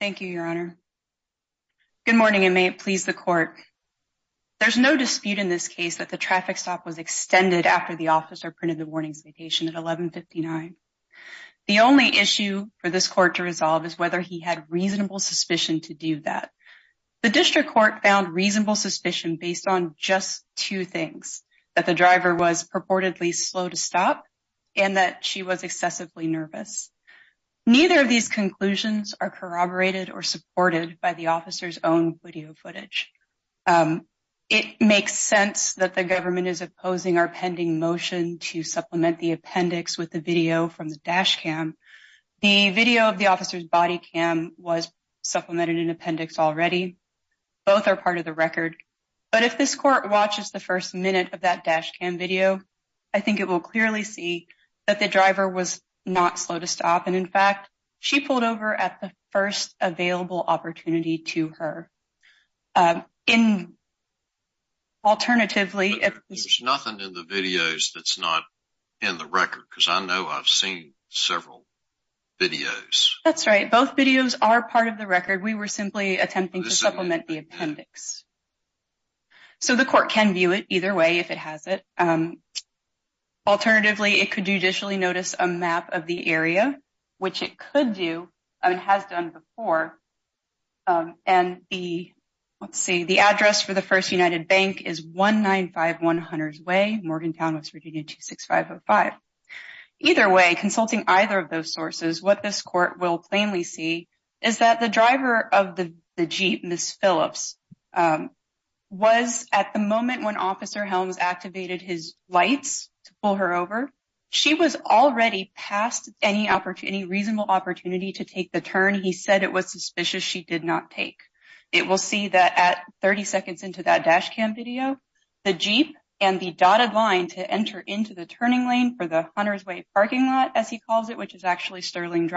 Thank you, your honor. Good morning and may it please the court. There's no dispute in this case that the traffic stop was extended after the officer printed the warning citation at 11.59. The only issue for this court to resolve is whether he had reasonable suspicion to do that. The district court found reasonable suspicion based on just two things, that the driver was are corroborated or supported by the officer's own video footage. It makes sense that the government is opposing our pending motion to supplement the appendix with the video from the dash cam. The video of the officer's body cam was supplemented in appendix already. Both are part of the record. But if this court watches the first minute of that dash cam video, I think it will that the driver was not slow to stop. And in fact, she pulled over at the first available opportunity to her. In alternatively, if there's nothing in the videos that's not in the record, because I know I've seen several videos. That's right. Both videos are part of the record. We were simply attempting to supplement the appendix. So the court can view it either way if it has it. Alternatively, it could judicially notice a map of the area, which it could do and has done before. And the, let's see, the address for the First United Bank is 195100's Way, Morgantown, West Virginia, 26505. Either way, consulting either of those sources, what this court will plainly see is that the driver of the Jeep, Ms. Phillips, was at the moment when Officer Helms activated his lights to pull her over, she was already past any reasonable opportunity to take the turn he said it was suspicious she did not take. It will see that at 30 seconds into that dash cam video, the Jeep and the dotted line to enter into the turning lane for the Hunter's Way parking lot, as he calls it, which is actually Sterling for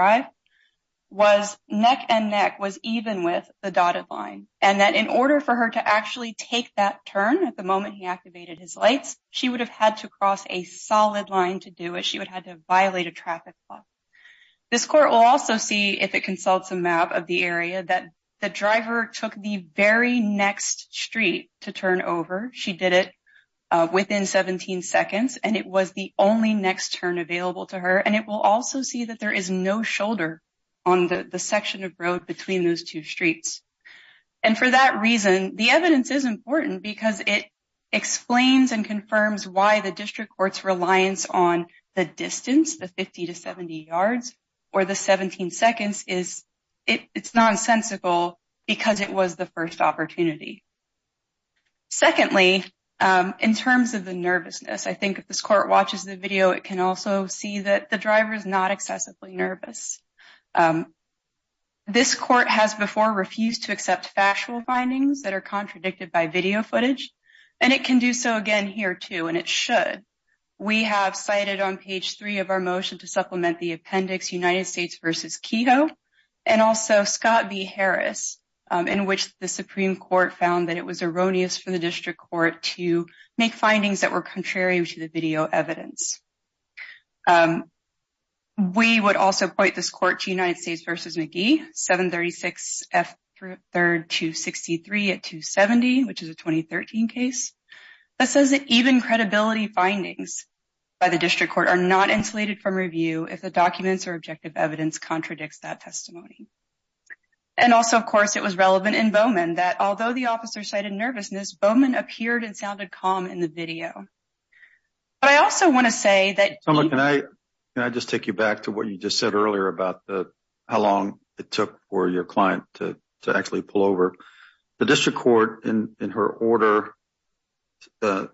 her to actually take that turn at the moment he activated his lights, she would have had to cross a solid line to do it. She would have had to violate a traffic law. This court will also see if it consults a map of the area that the driver took the very next street to turn over. She did it within 17 seconds, and it was the only next turn available to her. And it will also see that there is no shoulder on the section of road between those two streets. And for that reason, the evidence is important because it explains and confirms why the district court's reliance on the distance, the 50 to 70 yards, or the 17 seconds is, it's nonsensical because it was the first opportunity. Secondly, in terms of the nervousness, I think if this court watches the video, it can also see that the driver is not excessively nervous. Um, this court has before refused to accept factual findings that are contradicted by video footage, and it can do so again here too, and it should. We have cited on page three of our motion to supplement the appendix United States versus Kehoe, and also Scott v. Harris, um, in which the Supreme Court found that it was erroneous for the district court to make findings that were versus McGee, 736F3263 at 270, which is a 2013 case. That says that even credibility findings by the district court are not insulated from review if the documents or objective evidence contradicts that testimony. And also, of course, it was relevant in Bowman that although the officer cited nervousness, Bowman appeared and sounded calm in the video. But I also want to say that. Can I just take you back to what you just said earlier about how long it took for your client to actually pull over? The district court in her order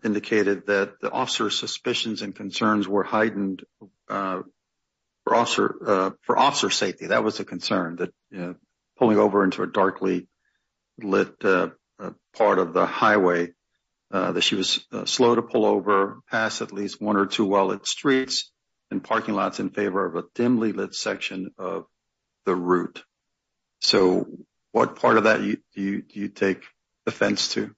indicated that the officer's suspicions and concerns were heightened for officer safety. That was a concern, that pulling over into a darkly lit part of the highway, that she was slow to pull over, pass at least one or two well lit streets and parking lots in favor of a dimly lit section of the route. So what part of that do you take offense to?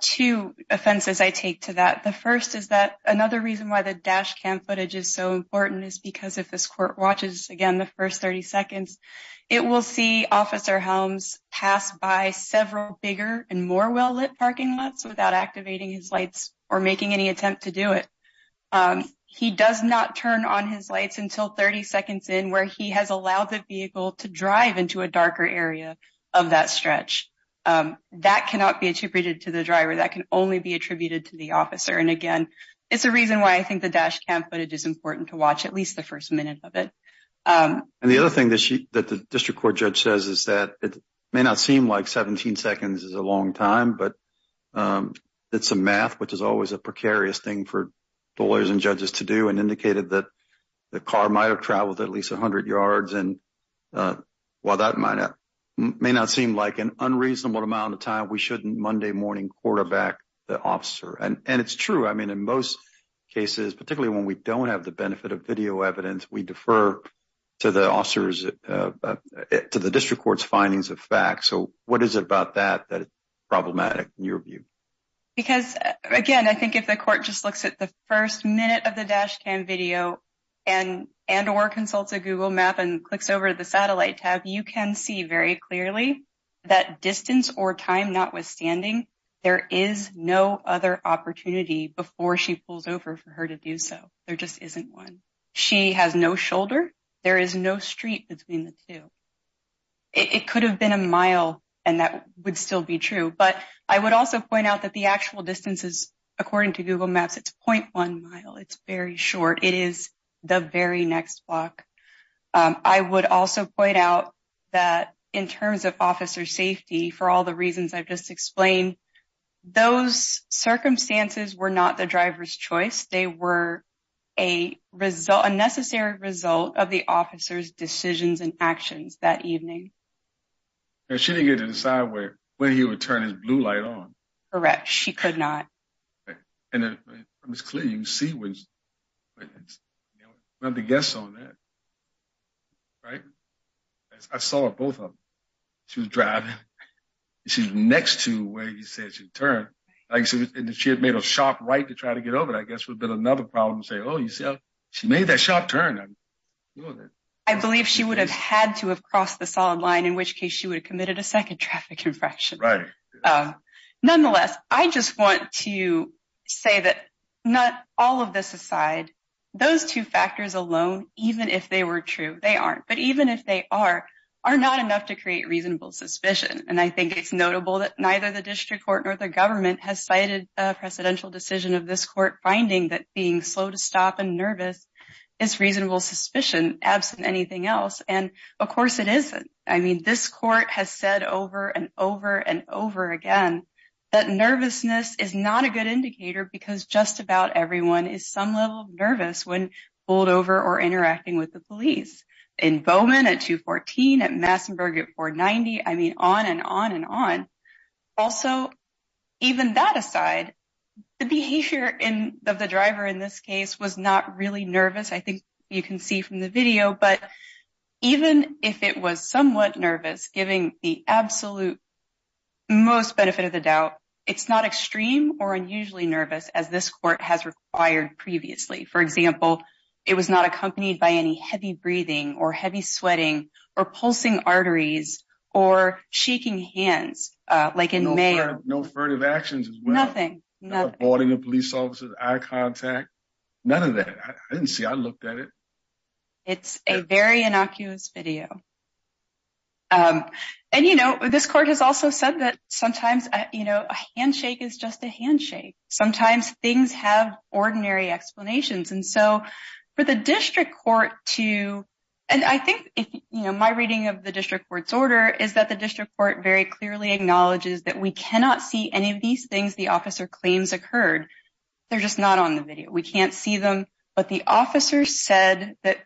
Two offenses I take to that. The first is that another reason why the dash cam footage is so important is because if this court watches again the first 30 seconds, it will see officer Helms pass by several bigger and more well lit parking lots without activating his lights or making any attempt to do it. He does not turn on his lights until 30 seconds in where he has allowed the vehicle to drive into a darker area of that stretch. That cannot be attributed to the driver. That can only be attributed to the officer. And again, it's a reason why I think the dash cam footage is important to watch at least the first minute of it. And the other thing that the district court judge says is that it may not seem like 17 seconds is a long time, but it's a math which is always a precarious thing for lawyers and judges to do and indicated that the car might have traveled at least 100 yards and while that may not seem like an unreasonable amount of time, we shouldn't Monday morning quarterback the officer. And it's true. I mean, in most cases, particularly when we don't have the benefit of video evidence, we defer to the officers, to the district court's findings of facts. So what is it about that, that problematic in your view? Because again, I think if the court just looks at the first minute of the dash cam video and, and, or consults a Google map and clicks over to the satellite tab, you can see very clearly that distance or time notwithstanding, there is no other opportunity before she pulls over for her to do. So there just isn't one. She has no shoulder. There is no street between the two. It could have been a mile and that would still be true. But I would also point out that the actual distances, according to Google maps, it's 0.1 mile. It's very short. It is the very next block. I would also point out that in terms of officer safety, for all the reasons I've just explained, those circumstances were not the necessary result of the officer's decisions and actions that evening. And she didn't get to decide where, when he would turn his blue light on. Correct. She could not. And it was clear, you see when you have to guess on that, right? I saw both of them. She was driving. She's next to where he said she'd turn. Like I said, she had made a sharp right to try to get over it. I guess would have been another problem to say, Oh, you see, she made that sharp turn. I believe she would have had to have crossed the solid line, in which case she would have committed a second traffic infraction. Nonetheless, I just want to say that not all of this aside, those two factors alone, even if they were true, they aren't. But even if they are, are not enough to create reasonable suspicion. And I think it's notable that neither the district court nor the government has cited a presidential decision of this court finding that being slow to stop and nervous is reasonable suspicion absent anything else. And of course it isn't. I mean, this court has said over and over and over again, that nervousness is not a good indicator because just about everyone is some level of nervous when pulled over or interacting with the police. In Bowman at 214, at Massenburg at 490. I mean, on and on and on. Also, even that aside, the behavior of the driver in this case was not really nervous. I think you can see from the video, but even if it was somewhat nervous, giving the absolute most benefit of the doubt, it's not extreme or unusually nervous as this court has required previously. For example, it was not accompanied by any heavy breathing or heavy sweating or pulsing arteries or shaking hands like in May. No furtive actions as well. Nothing. Not avoiding a police officer's eye contact. None of that. I didn't see. I looked at it. It's a very innocuous video. And you know, this court has also said that sometimes, you know, a handshake is just a handshake. Sometimes things have ordinary explanations. And so for the district court to, and I think, you know, my reading of the district court's order is that the district court very clearly acknowledges that we cannot see any of these things the officer claims occurred. They're just not on the video. We can't see them, but the officer said that,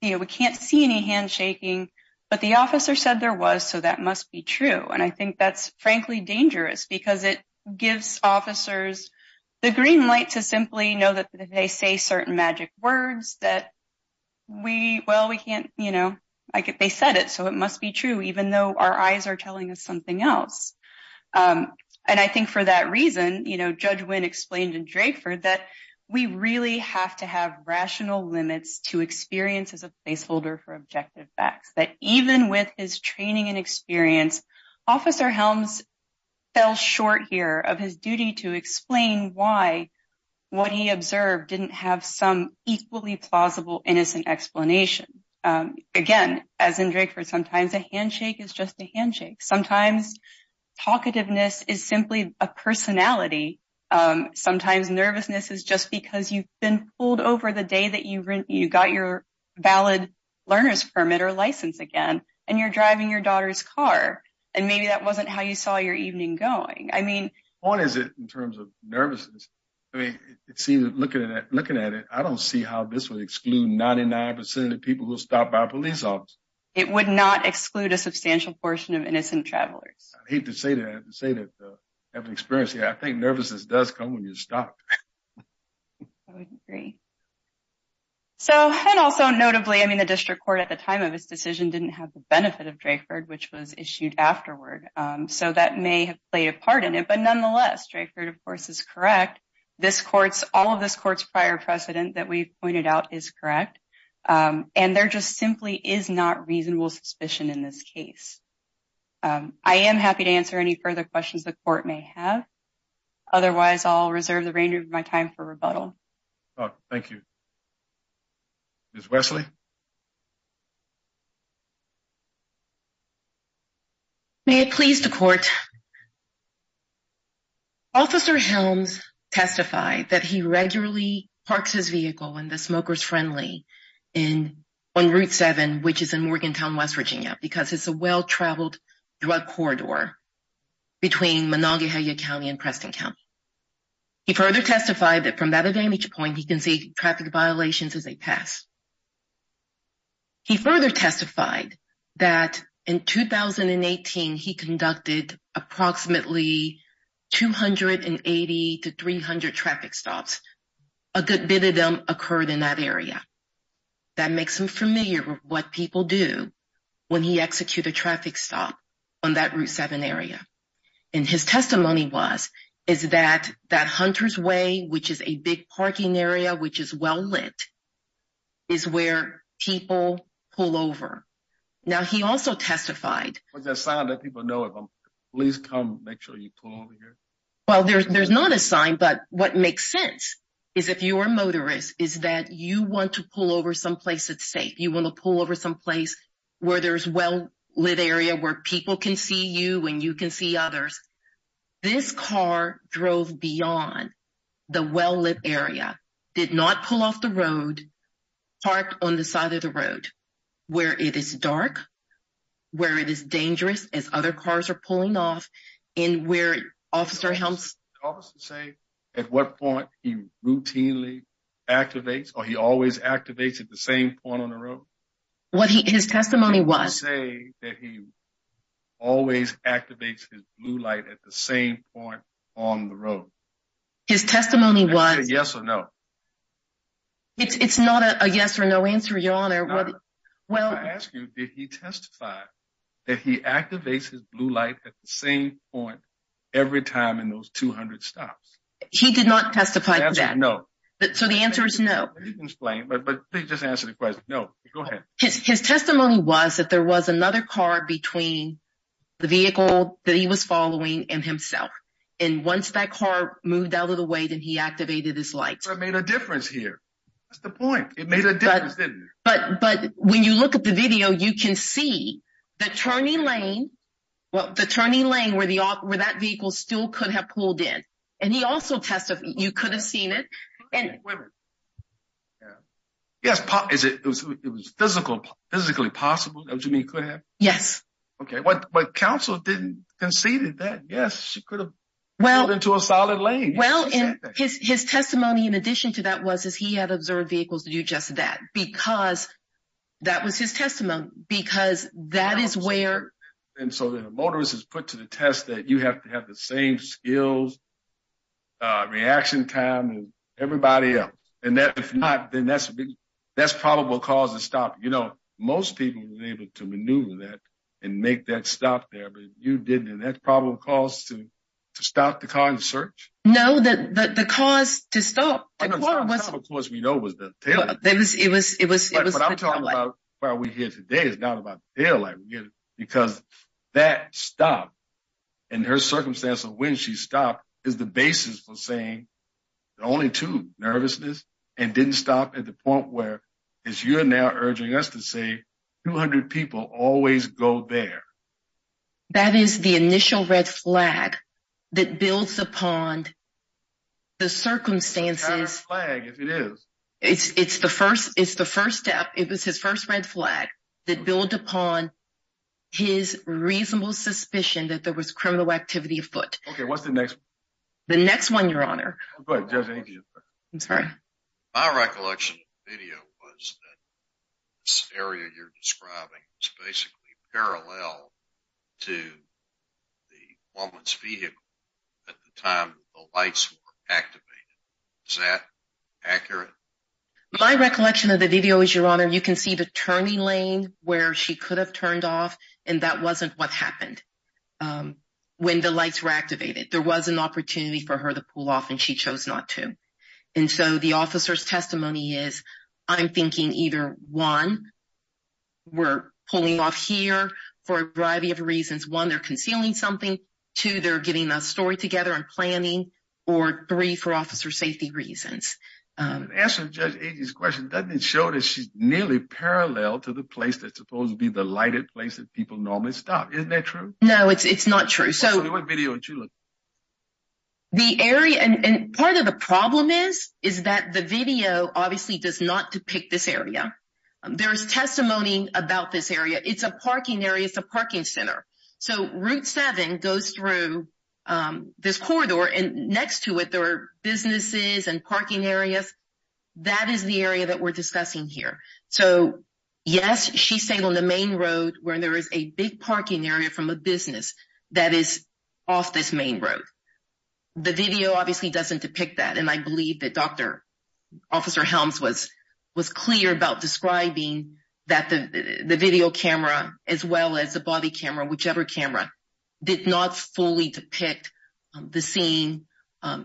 you know, we can't see any handshaking, but the officer said there was, so that must be true. And I think that's frankly dangerous because it gives officers the green light to simply know that they say certain magic words that we, well, we can't, you know, I get, they said it, so it must be true, even though our eyes are telling us something else. And I think for that reason, you know, Judge Wynn explained in Drakeford that we really have to have rational limits to experience as a placeholder for objective facts, that even with his training and experience, Officer Helms fell short here of his duty to explain why what he observed didn't have some equally plausible, innocent explanation. Again, as in Drakeford, sometimes a handshake is just a handshake. Sometimes talkativeness is simply a personality. Sometimes nervousness is just because you've been pulled over the day that you got your valid learner's permit or license again, and you're driving your daughter's car, and maybe that wasn't how you saw your evening going. I mean, what is it in terms of nervousness? I mean, it seems that looking at it, I don't see how this would exclude 99% of the people who were stopped by a police officer. It would not exclude a substantial portion of innocent travelers. I hate to say that, to say that I haven't experienced it, I think nervousness does come when you're stopped. I would agree. So, and also notably, I mean, the District Court at the time of benefit of Drakeford, which was issued afterward, so that may have played a part in it. But nonetheless, Drakeford, of course, is correct. This court's, all of this court's prior precedent that we've pointed out is correct. And there just simply is not reasonable suspicion in this case. I am happy to answer any further questions the court may have. Otherwise, I'll reserve the remainder of my time for rebuttal. Thank you. Ms. Wesley. May it please the court. Officer Helms testified that he regularly parks his vehicle in the Smokers Friendly on Route 7, which is in Morgantown, West Virginia, because it's a well-traveled drug corridor between Monongahela County and Preston County. He further testified that from that vantage point, he can see traffic violations as they pass. He further testified that in 2018, he conducted approximately 280 to 300 traffic stops. A good bit of them occurred in that area. That makes him familiar with what people do when he executes a traffic stop on that Route 7 area. And his testimony was, is that, that Hunter's Way, which is a big parking area, which is well-lit, is where people pull over. Now, he also testified. Was there a sign that people know if I'm, please come, make sure you pull over here? Well, there's not a sign, but what makes sense is if you are a motorist, is that you want to there's a well-lit area where people can see you and you can see others. This car drove beyond the well-lit area, did not pull off the road, parked on the side of the road, where it is dark, where it is dangerous as other cars are pulling off, and where Officer Helms- Did the officer say at what point he routinely activates or he always activates at the same point on the road? What he, his testimony was- Did he say that he always activates his blue light at the same point on the road? His testimony was- Did he say yes or no? It's not a yes or no answer, Your Honor. Well, I ask you, did he testify that he activates his blue light at the same point every time in those 200 stops? He did not testify to that. No. So the answer is no. You can explain, but please just answer the question. No, go ahead. His testimony was that there was another car between the vehicle that he was following and himself. And once that car moved out of the way, then he activated his lights. So it made a difference here. That's the point. It made a difference, didn't it? But when you look at the video, you can see the turning lane, well, the turning lane where that vehicle still could have pulled in. And he also testified, you could have seen it. Yes, it was physically possible. Do you mean could have? Yes. Okay. But counsel didn't conceded that. Yes, she could have pulled into a solid lane. Well, his testimony in addition to that was, is he had observed vehicles to do just that, because that was his testimony, because that is where- And so the motorist is put to the test that you have to have the same skills, uh, reaction time and everybody else. And that if not, then that's a big, that's probable cause to stop. You know, most people were able to maneuver that and make that stop there, but you didn't. And that's probable cause to stop the car in search. No, the cause to stop the car was- The cause we know was the tail light. It was, it was, it was, it was- But I'm talking about why we're here today. It's not about the tail light. We're here because that stop and her circumstance of when she stopped is the basis for saying the only two, nervousness and didn't stop at the point where, as you're now urging us to say, 200 people always go there. That is the initial red flag that builds upon the circumstances. It's not a red flag if it is. It's, it's the first, it's the first step. It was his first red flag that built upon his reasonable suspicion that there was criminal activity afoot. Okay. What's the next one? The next one, Your Honor. Go ahead, Judge, any of you. I'm sorry. My recollection of the video was that this area you're describing is basically parallel to the woman's vehicle at the time the lights were activated. Is that accurate? My recollection of the video is, Your Honor, you can see the turning lane where she could have turned off and that wasn't what happened when the lights were activated. There was an opportunity for her to pull off and she chose not to. And so the officer's testimony is, I'm thinking either one, we're pulling off here for a variety of reasons. One, they're concealing something. Two, they're getting a story together and planning. Or three, for officer safety reasons. Answering Judge Agee's question doesn't show that she's nearly parallel to the place that's supposed to be the lighted place that people normally stop. Isn't that true? No, it's not true. So what video are you looking at? The area, and part of the problem is, is that the video obviously does not depict this area. There is testimony about this area. It's a parking area. It's a parking center. So Route 7 goes through this corridor and next to it, there are businesses and parking areas. That is the area that we're discussing here. So yes, she's saying on the main road where there is a big parking area from a business that is off this main road. The video obviously doesn't depict that. And I believe that Dr. Officer Helms was clear about describing that the video camera, as well as the body camera, whichever camera, did not fully depict the scene. Well,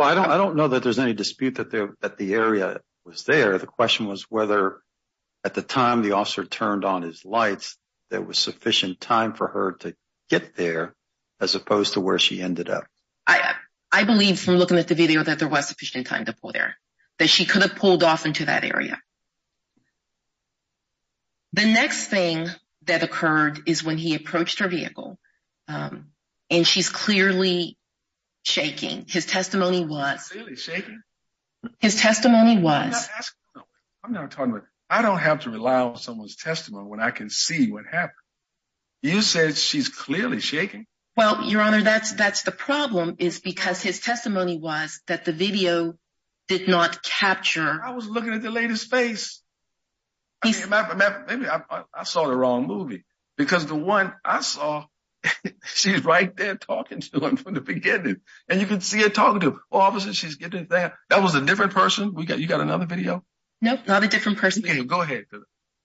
I don't know that there's any dispute that the area was there. The question was whether at the time the officer turned on his lights, there was sufficient time for her to get there as opposed to where she ended up. I believe from looking at the video that there was sufficient time to pull there, that she could have pulled off into that area. The next thing that occurred is when he approached her vehicle and she's clearly shaking. His testimony was... Clearly shaking? His testimony was... I'm not asking you. I'm not talking about... I don't have to rely on someone's testimony when I can see what happened. You said she's clearly shaking. Well, Your Honor, that's the problem is because his testimony was that the video did not capture... I was looking at the lady's face. Maybe I saw the wrong movie because the one I saw, she's right there talking to him from the beginning and you can see her talking to him. Officer, she's getting there. That was a different person. You got another video? Nope. Not a different person. Go ahead.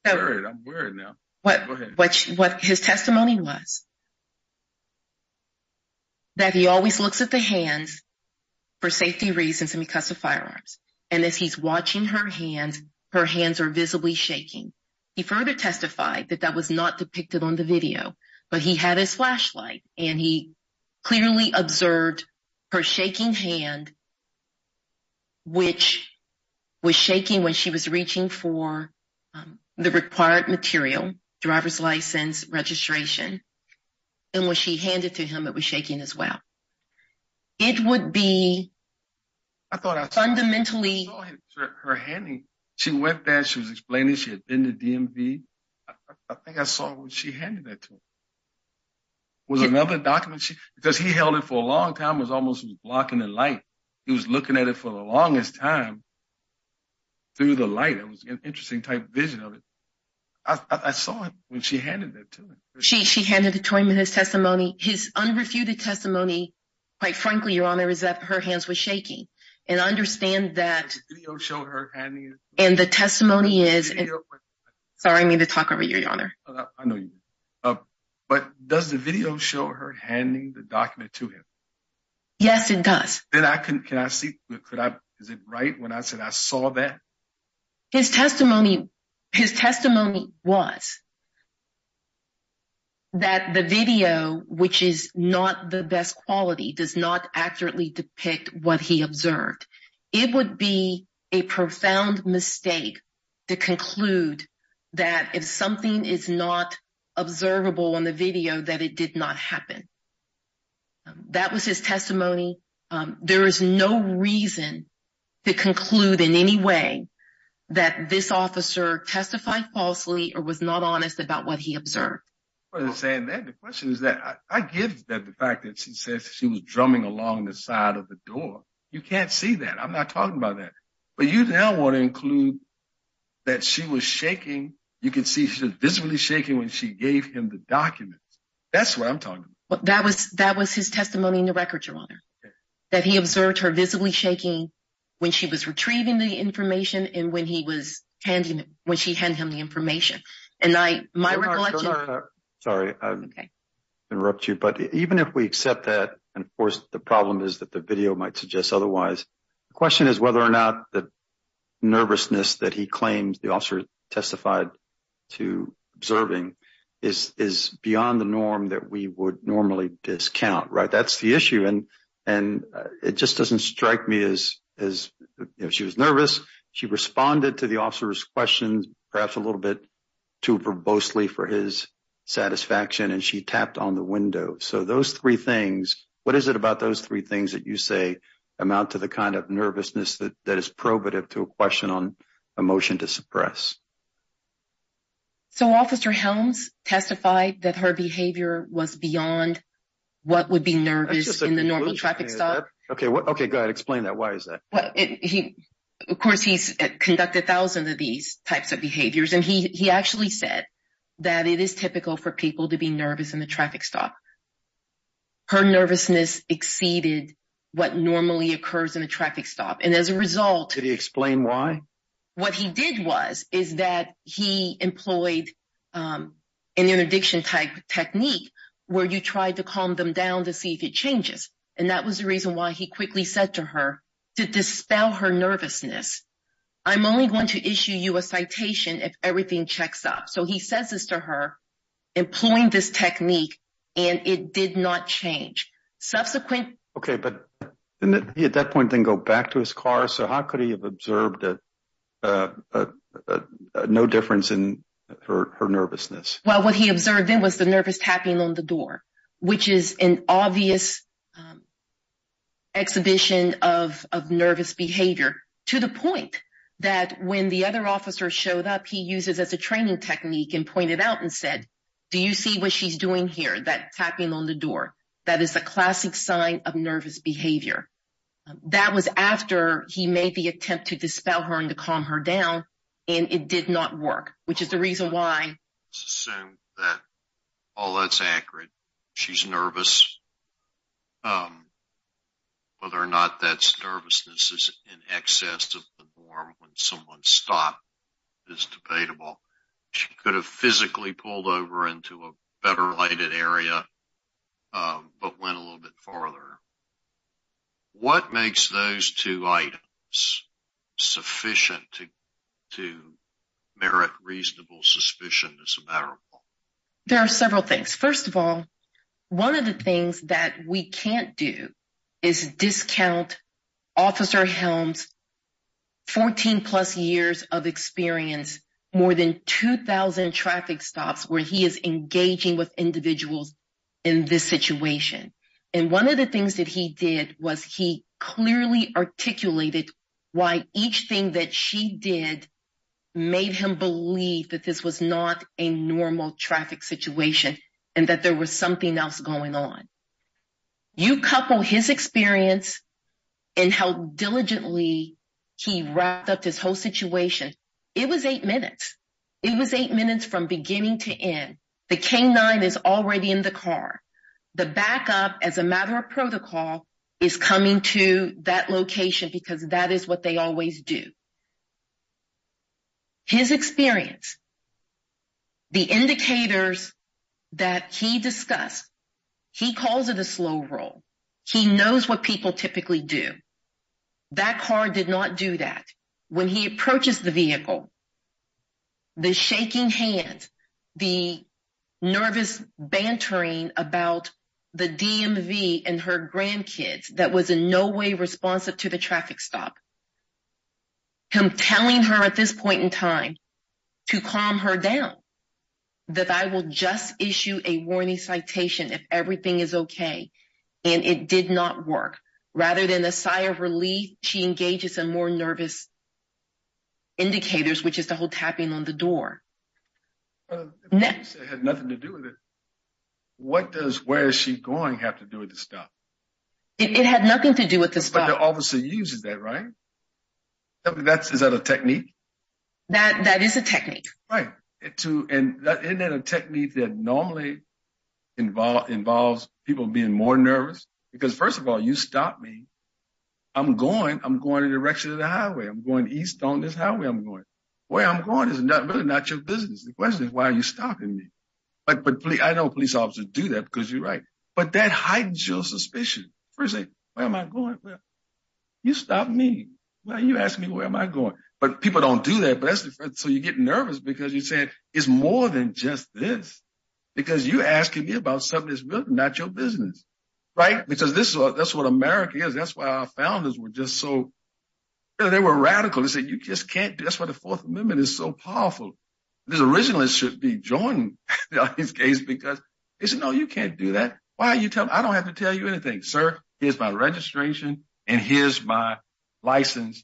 I'm worried now. Go ahead. What his testimony was... That he always looks at the hands for safety reasons and because of firearms. And as he's watching her hands, her hands are visibly shaking. He further testified that that was not depicted on the video, but he had his flashlight and he clearly observed her shaking hand, which was shaking when she was reaching for the required material, driver's license, registration. And when she handed to him, it was shaking as well. It would be fundamentally... I saw her handing. She went there. She was explaining she had been to DMV. I think I saw when she handed that to him. Was it another document? Because he held it for a long time. It was almost blocking the light. He was looking at it for the longest time through the light. It was an interesting type vision of it. I saw it when she handed that to him. She handed it to him in his testimony. His unrefuted testimony, quite frankly, Your Honor, is that her hands were shaking. And understand that... Does the video show her handing it to him? And the testimony is... Sorry, I need to talk over you, Your Honor. But does the video show her handing the document to him? Yes, it does. Can I see? Is it right when I said I saw that? His testimony was that the video, which is not the best quality, does not accurately depict what he observed. It would be a profound mistake to conclude that if something is not observable on the video, that it did not happen. That was his testimony. There is no reason to conclude in any way that this officer testified falsely or was not honest about what he observed. Rather than saying that, the question is that I give that the fact that she says she was drumming along the side of the door. You can't see that. I'm not talking about that. But you now want to include that she was shaking. You can see she was visibly shaking when she gave him the document. That's what I'm talking about. That was his testimony in the record, Your Honor, that he observed her visibly shaking when she was retrieving the information and when she handed him the information. Sorry to interrupt you, but even if we accept that, and of course the problem is that the video might suggest otherwise, the question is whether or not the nervousness that he claims the officer testified to observing is beyond the norm that we would normally discount. That's the issue, and it just doesn't strike me as if she was nervous, she responded to the officer's questions perhaps a little bit too verbosely for his satisfaction, and she tapped on the window. So those three things, what is it about those three things that you say amount to the kind of nervousness that is probative to a question on a motion to suppress? So Officer Helms testified that her behavior was beyond what would be nervous in the normal traffic stop. Okay, go ahead, explain that. Why is that? Of course, he's conducted thousands of these types of behaviors, and he actually said that it is typical for people to be nervous in the traffic stop. Her nervousness exceeded what normally occurs in a traffic stop, and as a result... Did he explain why? What he did was, is that he employed an interdiction type technique where you tried to calm them down to see if it changes, and that was the reason why he quickly said to her to dispel her nervousness. I'm only going to issue you a citation if everything checks up. So he says this employing this technique, and it did not change. Subsequent... Okay, but he at that point didn't go back to his car, so how could he have observed no difference in her nervousness? Well, what he observed then was the nervous tapping on the door, which is an obvious exhibition of nervous behavior to the point that when the other officer showed up, he used it as a training technique and pointed out and said, do you see what she's doing here, that tapping on the door? That is a classic sign of nervous behavior. That was after he made the attempt to dispel her and to calm her down, and it did not work, which is the reason why... Assume that all that's accurate. She's nervous. Whether or not that nervousness is in excess of the norm when someone stopped is debatable. She could have physically pulled over into a better lighted area, but went a little bit farther. What makes those two items sufficient to merit reasonable suspicion as a matter of law? There are several things. First of all, one of the things that we can't do is discount Officer Helms' 14 plus years of experience, more than 2000 traffic stops where he is engaging with individuals in this situation. One of the things that he did was he clearly articulated why each thing that she did made him believe that this was not a normal traffic situation and that there was something else going on. You couple his experience and how diligently he wrapped up this whole situation, it was eight minutes. It was eight minutes from beginning to end. The canine is already in the car. The backup, as a matter of protocol, is coming to that location because that is what they always do. His experience, the indicators that he discussed, he calls it a slow roll. He knows what people typically do. That car did not do that. When he approaches the vehicle, the shaking hands, the nervous bantering about the DMV and her grandkids that was in no way responsive to the traffic stop, him telling her at this point in time to calm her down, that I will just issue a warning citation if everything is okay and it did not work, rather than a sigh of relief, she engages in more nervous indicators, which is the whole tapping on the door. Next. It had nothing to do with it. What does, where is she going, have to do with the stop? It had nothing to do with the stop. But the officer uses that, right? Is that a technique? That is a technique. Right. Isn't that a technique that normally involves people being more nervous? Because, first of all, you stop me. I'm going. I'm going in the direction of the highway. I'm going east on this highway I'm going. Where I'm going is really not your business. The question is, you're stopping me. I know police officers do that because you're right. But that hides your suspicion. First thing, where am I going? You stopped me. You asked me, where am I going? But people don't do that. So you get nervous because you say, it's more than just this. Because you're asking me about something that's really not your business. Because that's what America is. That's why our founders were just so, they were radical. They said, you just can't, that's why the Fourth Amendment is so powerful. This originalist should be joined in this case because they said, no, you can't do that. Why are you telling me? I don't have to tell you anything, sir. Here's my registration and here's my license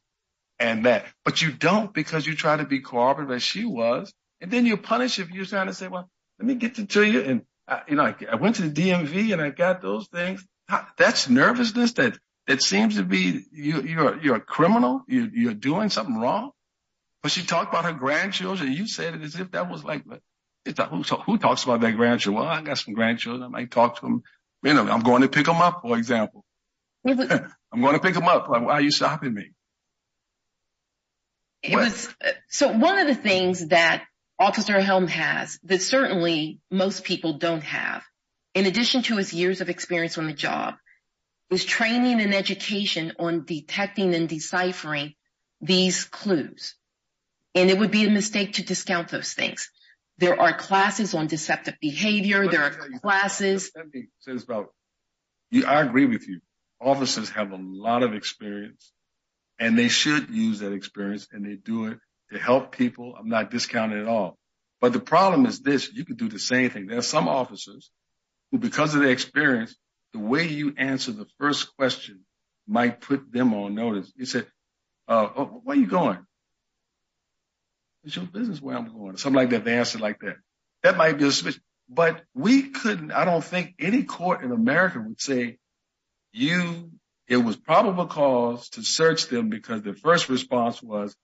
and that. But you don't because you try to be cooperative as she was. And then you punish if you're trying to say, well, let me get to you. And I went to the DMV and I got those things. That's nervousness that seems to be, you're a criminal, you're doing something wrong. But she talked about her grandchildren. You said it as if that was like, who talks about their grandchildren? Well, I got some grandchildren. I might talk to them. You know, I'm going to pick them up, for example. I'm going to pick them up. Why are you stopping me? So one of the things that Officer Helm has that certainly most people don't have, in addition to his years of experience on the job, is training and education on detecting and deciphering these clues. And it would be a mistake to discount those things. There are classes on deceptive behavior. There are classes. I agree with you. Officers have a lot of experience and they should use that experience and they do it to help people. I'm not discounting at all. But the problem is this, you can do the same thing. There are some officers who, because of their experience, the way you answer the first question might put them on notice. You say, where are you going? It's your business where I'm going. Something like that. They answer like that. That might be a switch. But we couldn't, I don't think any court in America would say, it was probable cause to search them because the first response was,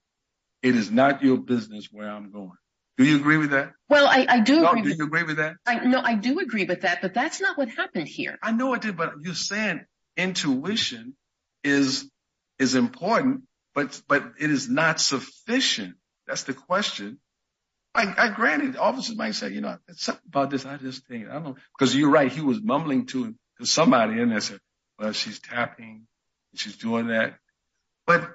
it is not your business where I'm going. Do you agree with that? Well, I do. Do you agree with that? No, I do agree with that, but that's not what happened here. I know it did, but you're saying intuition is important, but it is not sufficient. That's the question. Granted, officers might say, you know, something about this, I just think, I don't know. Because you're right, he was mumbling to somebody and they said, well, she's tapping, she's doing that. But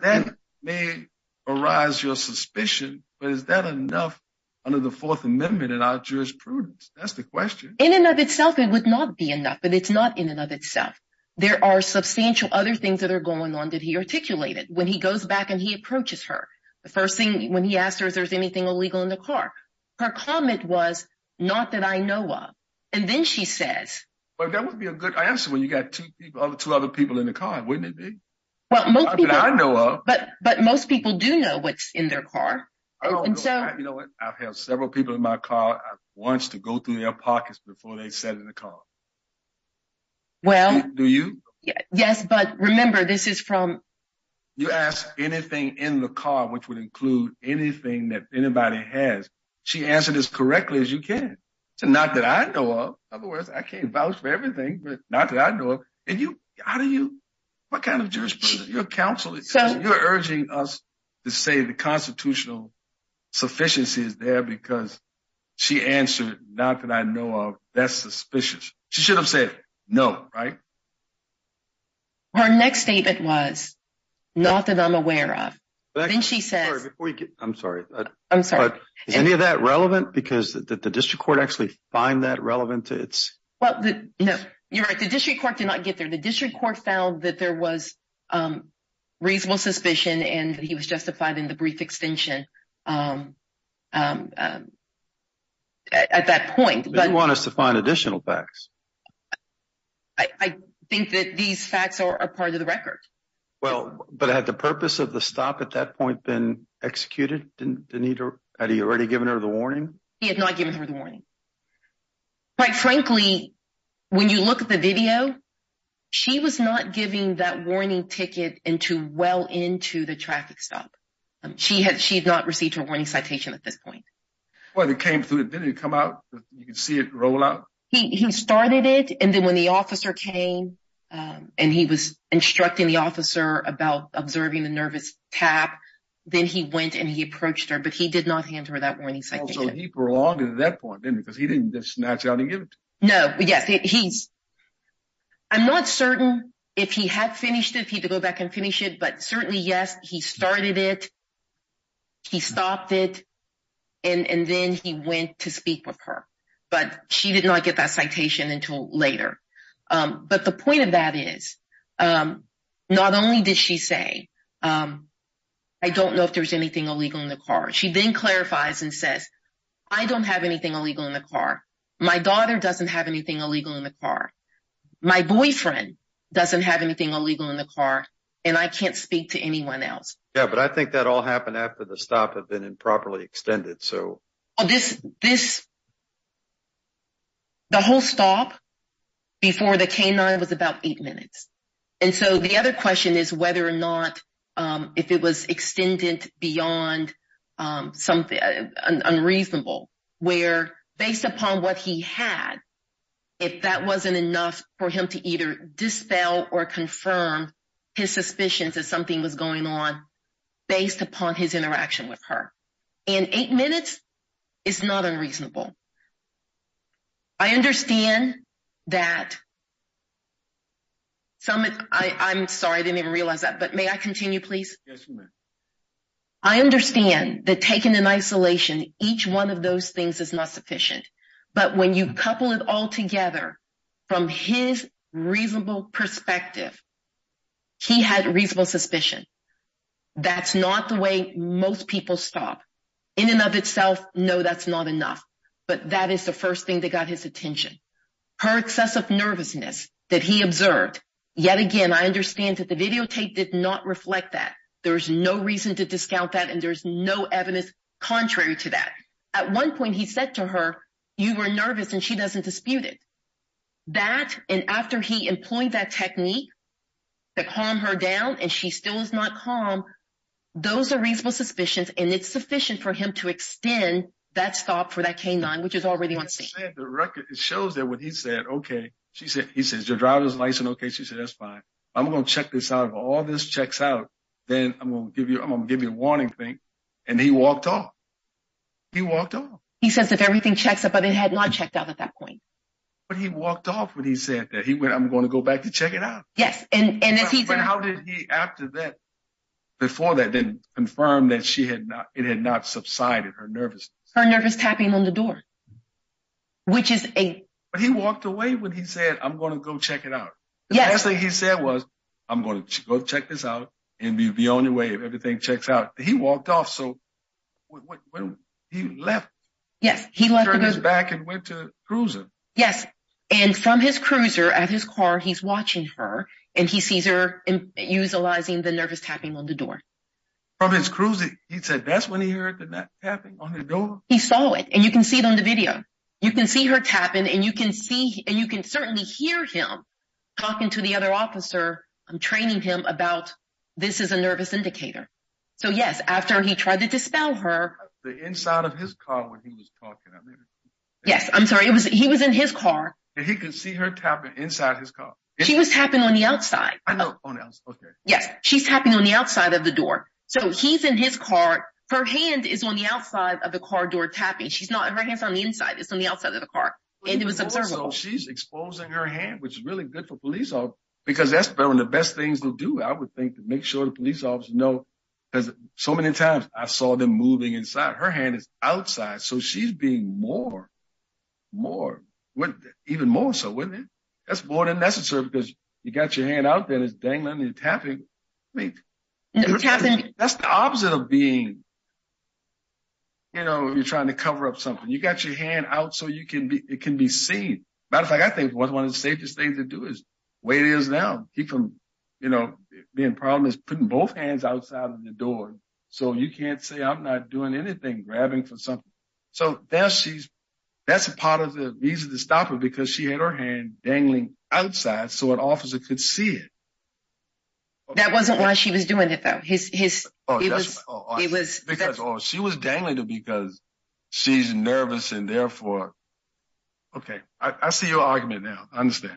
that may arise your suspicion, but is that enough under the fourth amendment in our jurisprudence? That's the question. In and of itself, it would not be enough, but it's not in and of itself. There are substantial other things that are going on that he articulated. When he goes back and he approaches her, the first thing when he asked her, is there anything illegal in the car? Her comment was, not that I know of. And then she says. Well, that would be a good answer when you got two other people in the car, wouldn't it be? But most people do know what's in their car. You know what, I've had several people in my car, I've wanted to go through their pockets before they sat in the car. Do you? Yes, but remember, this is from. You ask anything in the car, which would include anything that anybody has, she answered as correctly as you can. So, not that I know of. In other words, I can't vouch for everything, but not that I know of. And you, how do you, what kind of counsel, you're urging us to say the constitutional sufficiency is there because she answered, not that I know of, that's suspicious. She should have said, no, right? Her next statement was, not that I'm aware of. Then she says. I'm sorry. Is any of that relevant? Because the district court actually find that relevant to its. Well, no, you're right. The district court did not get there. The district court found that there was reasonable suspicion and he was justified in the brief extension at that point. But you want us to find additional facts? I think that these facts are part of the record. Well, but had the purpose of the stop at that point been executed? Had he already given her the warning? He had not given her the warning. Quite frankly, when you look at the video, she was not giving that warning ticket into well into the traffic stop. She had, she had not received her warning citation at this point. Well, it came through. It didn't come out. You can see it roll out. He started it. And then when the officer came and he was instructing the officer about observing the nervous tap, then he went and he approached her, but he did not hand her that warning. So he prolonged it at that point then because he didn't just snatch out and give it to her. No, yes. He's, I'm not certain if he had finished it, if he had to go back and finish it, but certainly, yes, he started it. He stopped it. And then he went to speak with her. But she did not get that citation until later. But the point of that is, not only did she say, I don't know if there's anything illegal in the car. She then clarifies and says, I don't have anything illegal in the car. My daughter doesn't have anything illegal in the car. My boyfriend doesn't have anything illegal in the car, and I can't speak to anyone else. Yeah, but I think that all happened after the stop had been improperly extended. The whole stop before the canine was about eight minutes. And so the other question is whether or if it was extended beyond something unreasonable, where based upon what he had, if that wasn't enough for him to either dispel or confirm his suspicions that something was going on based upon his interaction with her. And eight minutes is not unreasonable. I understand that taking an isolation, each one of those things is not sufficient. But when you couple it all together from his reasonable perspective, he had reasonable suspicion. That's not the way most people stop. In and of itself, no, that's not enough. But that is the first thing that got his attention. Her excessive nervousness that he observed, yet again, I understand that the videotape did not reflect that. There's no reason to discount that, and there's no evidence contrary to that. At one point, he said to her, you were nervous, and she doesn't dispute it. That and after he employed that technique to calm her down, and she still is not calm. Those are reasonable suspicions, and it's sufficient for him to extend that stop for that canine, which is already on scene. The record shows that when he said, okay, she said, he says, your driver's license, okay, she said, that's fine. I'm going to check this out. If all this checks out, then I'm going to give you a warning thing. And he walked off. He walked off. He says that everything checks up, but it had not checked out at that point. But he walked off when he said that. He went, I'm going to go back to check it out. Yes. And as he said... But how did he, after that, before that, then confirm that it had not subsided, her nervousness? Her nervous tapping on the door, which is a... But he walked away when he said, I'm going to go check it out. Yes. The last thing he said was, I'm going to go check this out, and be on your way if everything checks out. He walked off. So he left. Yes, he left. Turned his back and went to the cruiser. Yes. And from his cruiser at his car, he's watching her, and he sees her utilizing the nervous tapping on the door. From his cruiser, he said, that's when he heard the tapping on the door? He saw it. And you can see it on the video. You can see her tapping, and you can see, and you can certainly hear him talking to the other officer, training him about, this is a nervous indicator. So yes, after he tried to dispel her... The inside of his car when he was talking. Yes. I'm sorry. He was in his car. He could see her tapping inside his car. She was tapping on the outside. I know, on the outside. Okay. Yes. She's tapping on the outside of the door. So he's in his car. Her hand is on the outside of the car door tapping. She's not... Her hand's on the inside. It's on the outside of the car. And it was observable. She's exposing her hand, which is really good for police, because that's one of the best things to do, I would think, to make sure the police officer know, because so many times I saw them moving inside. Her hand is outside. So she's being more, more, even more so, wasn't it? That's more than necessary, because you got your hand out there, it's dangling and tapping. I mean, that's the opposite of being... You're trying to cover up something. You got your hand out so it can be seen. Matter of fact, I think one of the safest things to do is, the way it is now, the problem is putting both hands outside of the door. So you can't say, I'm not doing anything, grabbing for something. So that's a part of the reason to stop it, because she had her hand dangling outside, so an officer could see it. That wasn't why she was doing it, though. She was dangling it because she's nervous and therefore... Okay. I see your argument now. I understand.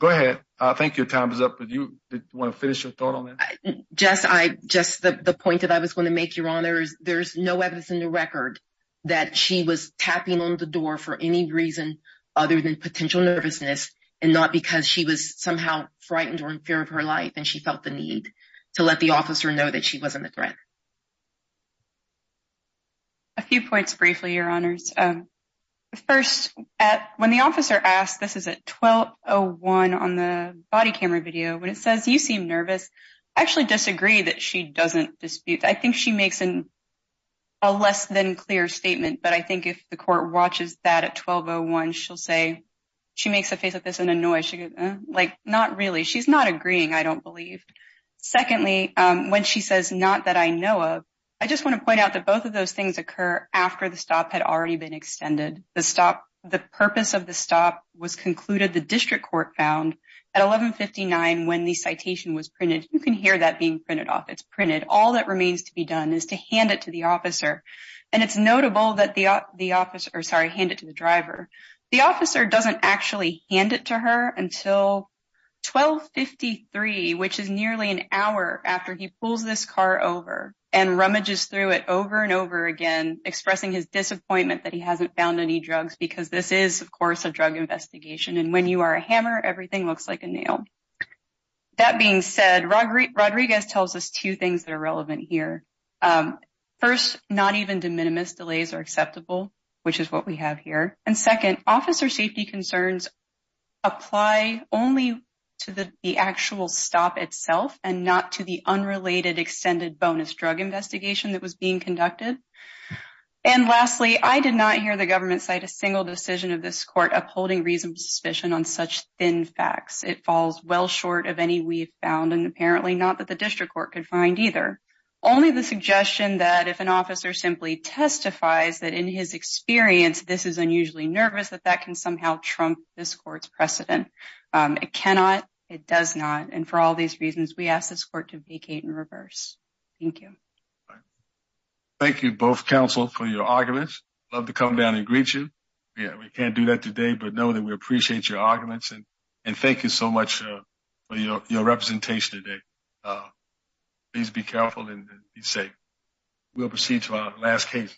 Go ahead. I think your time is up, but do you want to finish your thought on that? Just the point that I was going to make, Your Honor, is there's no evidence in the record that she was tapping on the door for any reason other than potential nervousness, and not because she was somehow frightened or in fear of her life, and she felt the need to let the officer know that she wasn't a threat. A few points briefly, Your Honors. First, when the officer asks, this is at 12.01 on the body camera video, when it says, you seem nervous, I actually disagree that she doesn't dispute. I think she makes a less than clear statement, but I think if the court watches that at 12.01, she'll say, she makes a face like this and a noise. She goes, not really. She's not agreeing, I don't believe. Secondly, when she says, not that I know of, I just want to point out that both of those things occur after the stop had already been extended. The purpose of the stop was concluded, the district court found, at 11.59 when the citation was printed. You can hear that being printed off. It's printed. All that remains to be done is to hand it to the officer, and it's The officer doesn't actually hand it to her until 12.53, which is nearly an hour after he pulls this car over and rummages through it over and over again, expressing his disappointment that he hasn't found any drugs, because this is, of course, a drug investigation, and when you are a hammer, everything looks like a nail. That being said, Rodriguez tells us two things that are relevant here. First, not even de minimis delays are acceptable, which is what we have here. And second, officer safety concerns apply only to the actual stop itself and not to the unrelated extended bonus drug investigation that was being conducted. And lastly, I did not hear the government cite a single decision of this court upholding reasonable suspicion on such thin facts. It falls well short of any we've found, and apparently not that the district court could find either. Only the suggestion that if an officer simply testifies that in his experience, this is unusually nervous, that that can somehow trump this court's precedent. It cannot. It does not. And for all these reasons, we ask this court to vacate in reverse. Thank you. Thank you both, counsel, for your arguments. Love to come down and greet you. Yeah, we can't do that today, but know that we appreciate your arguments, and thank you so much for your representation today. Please be careful and be safe. We'll proceed to our last case.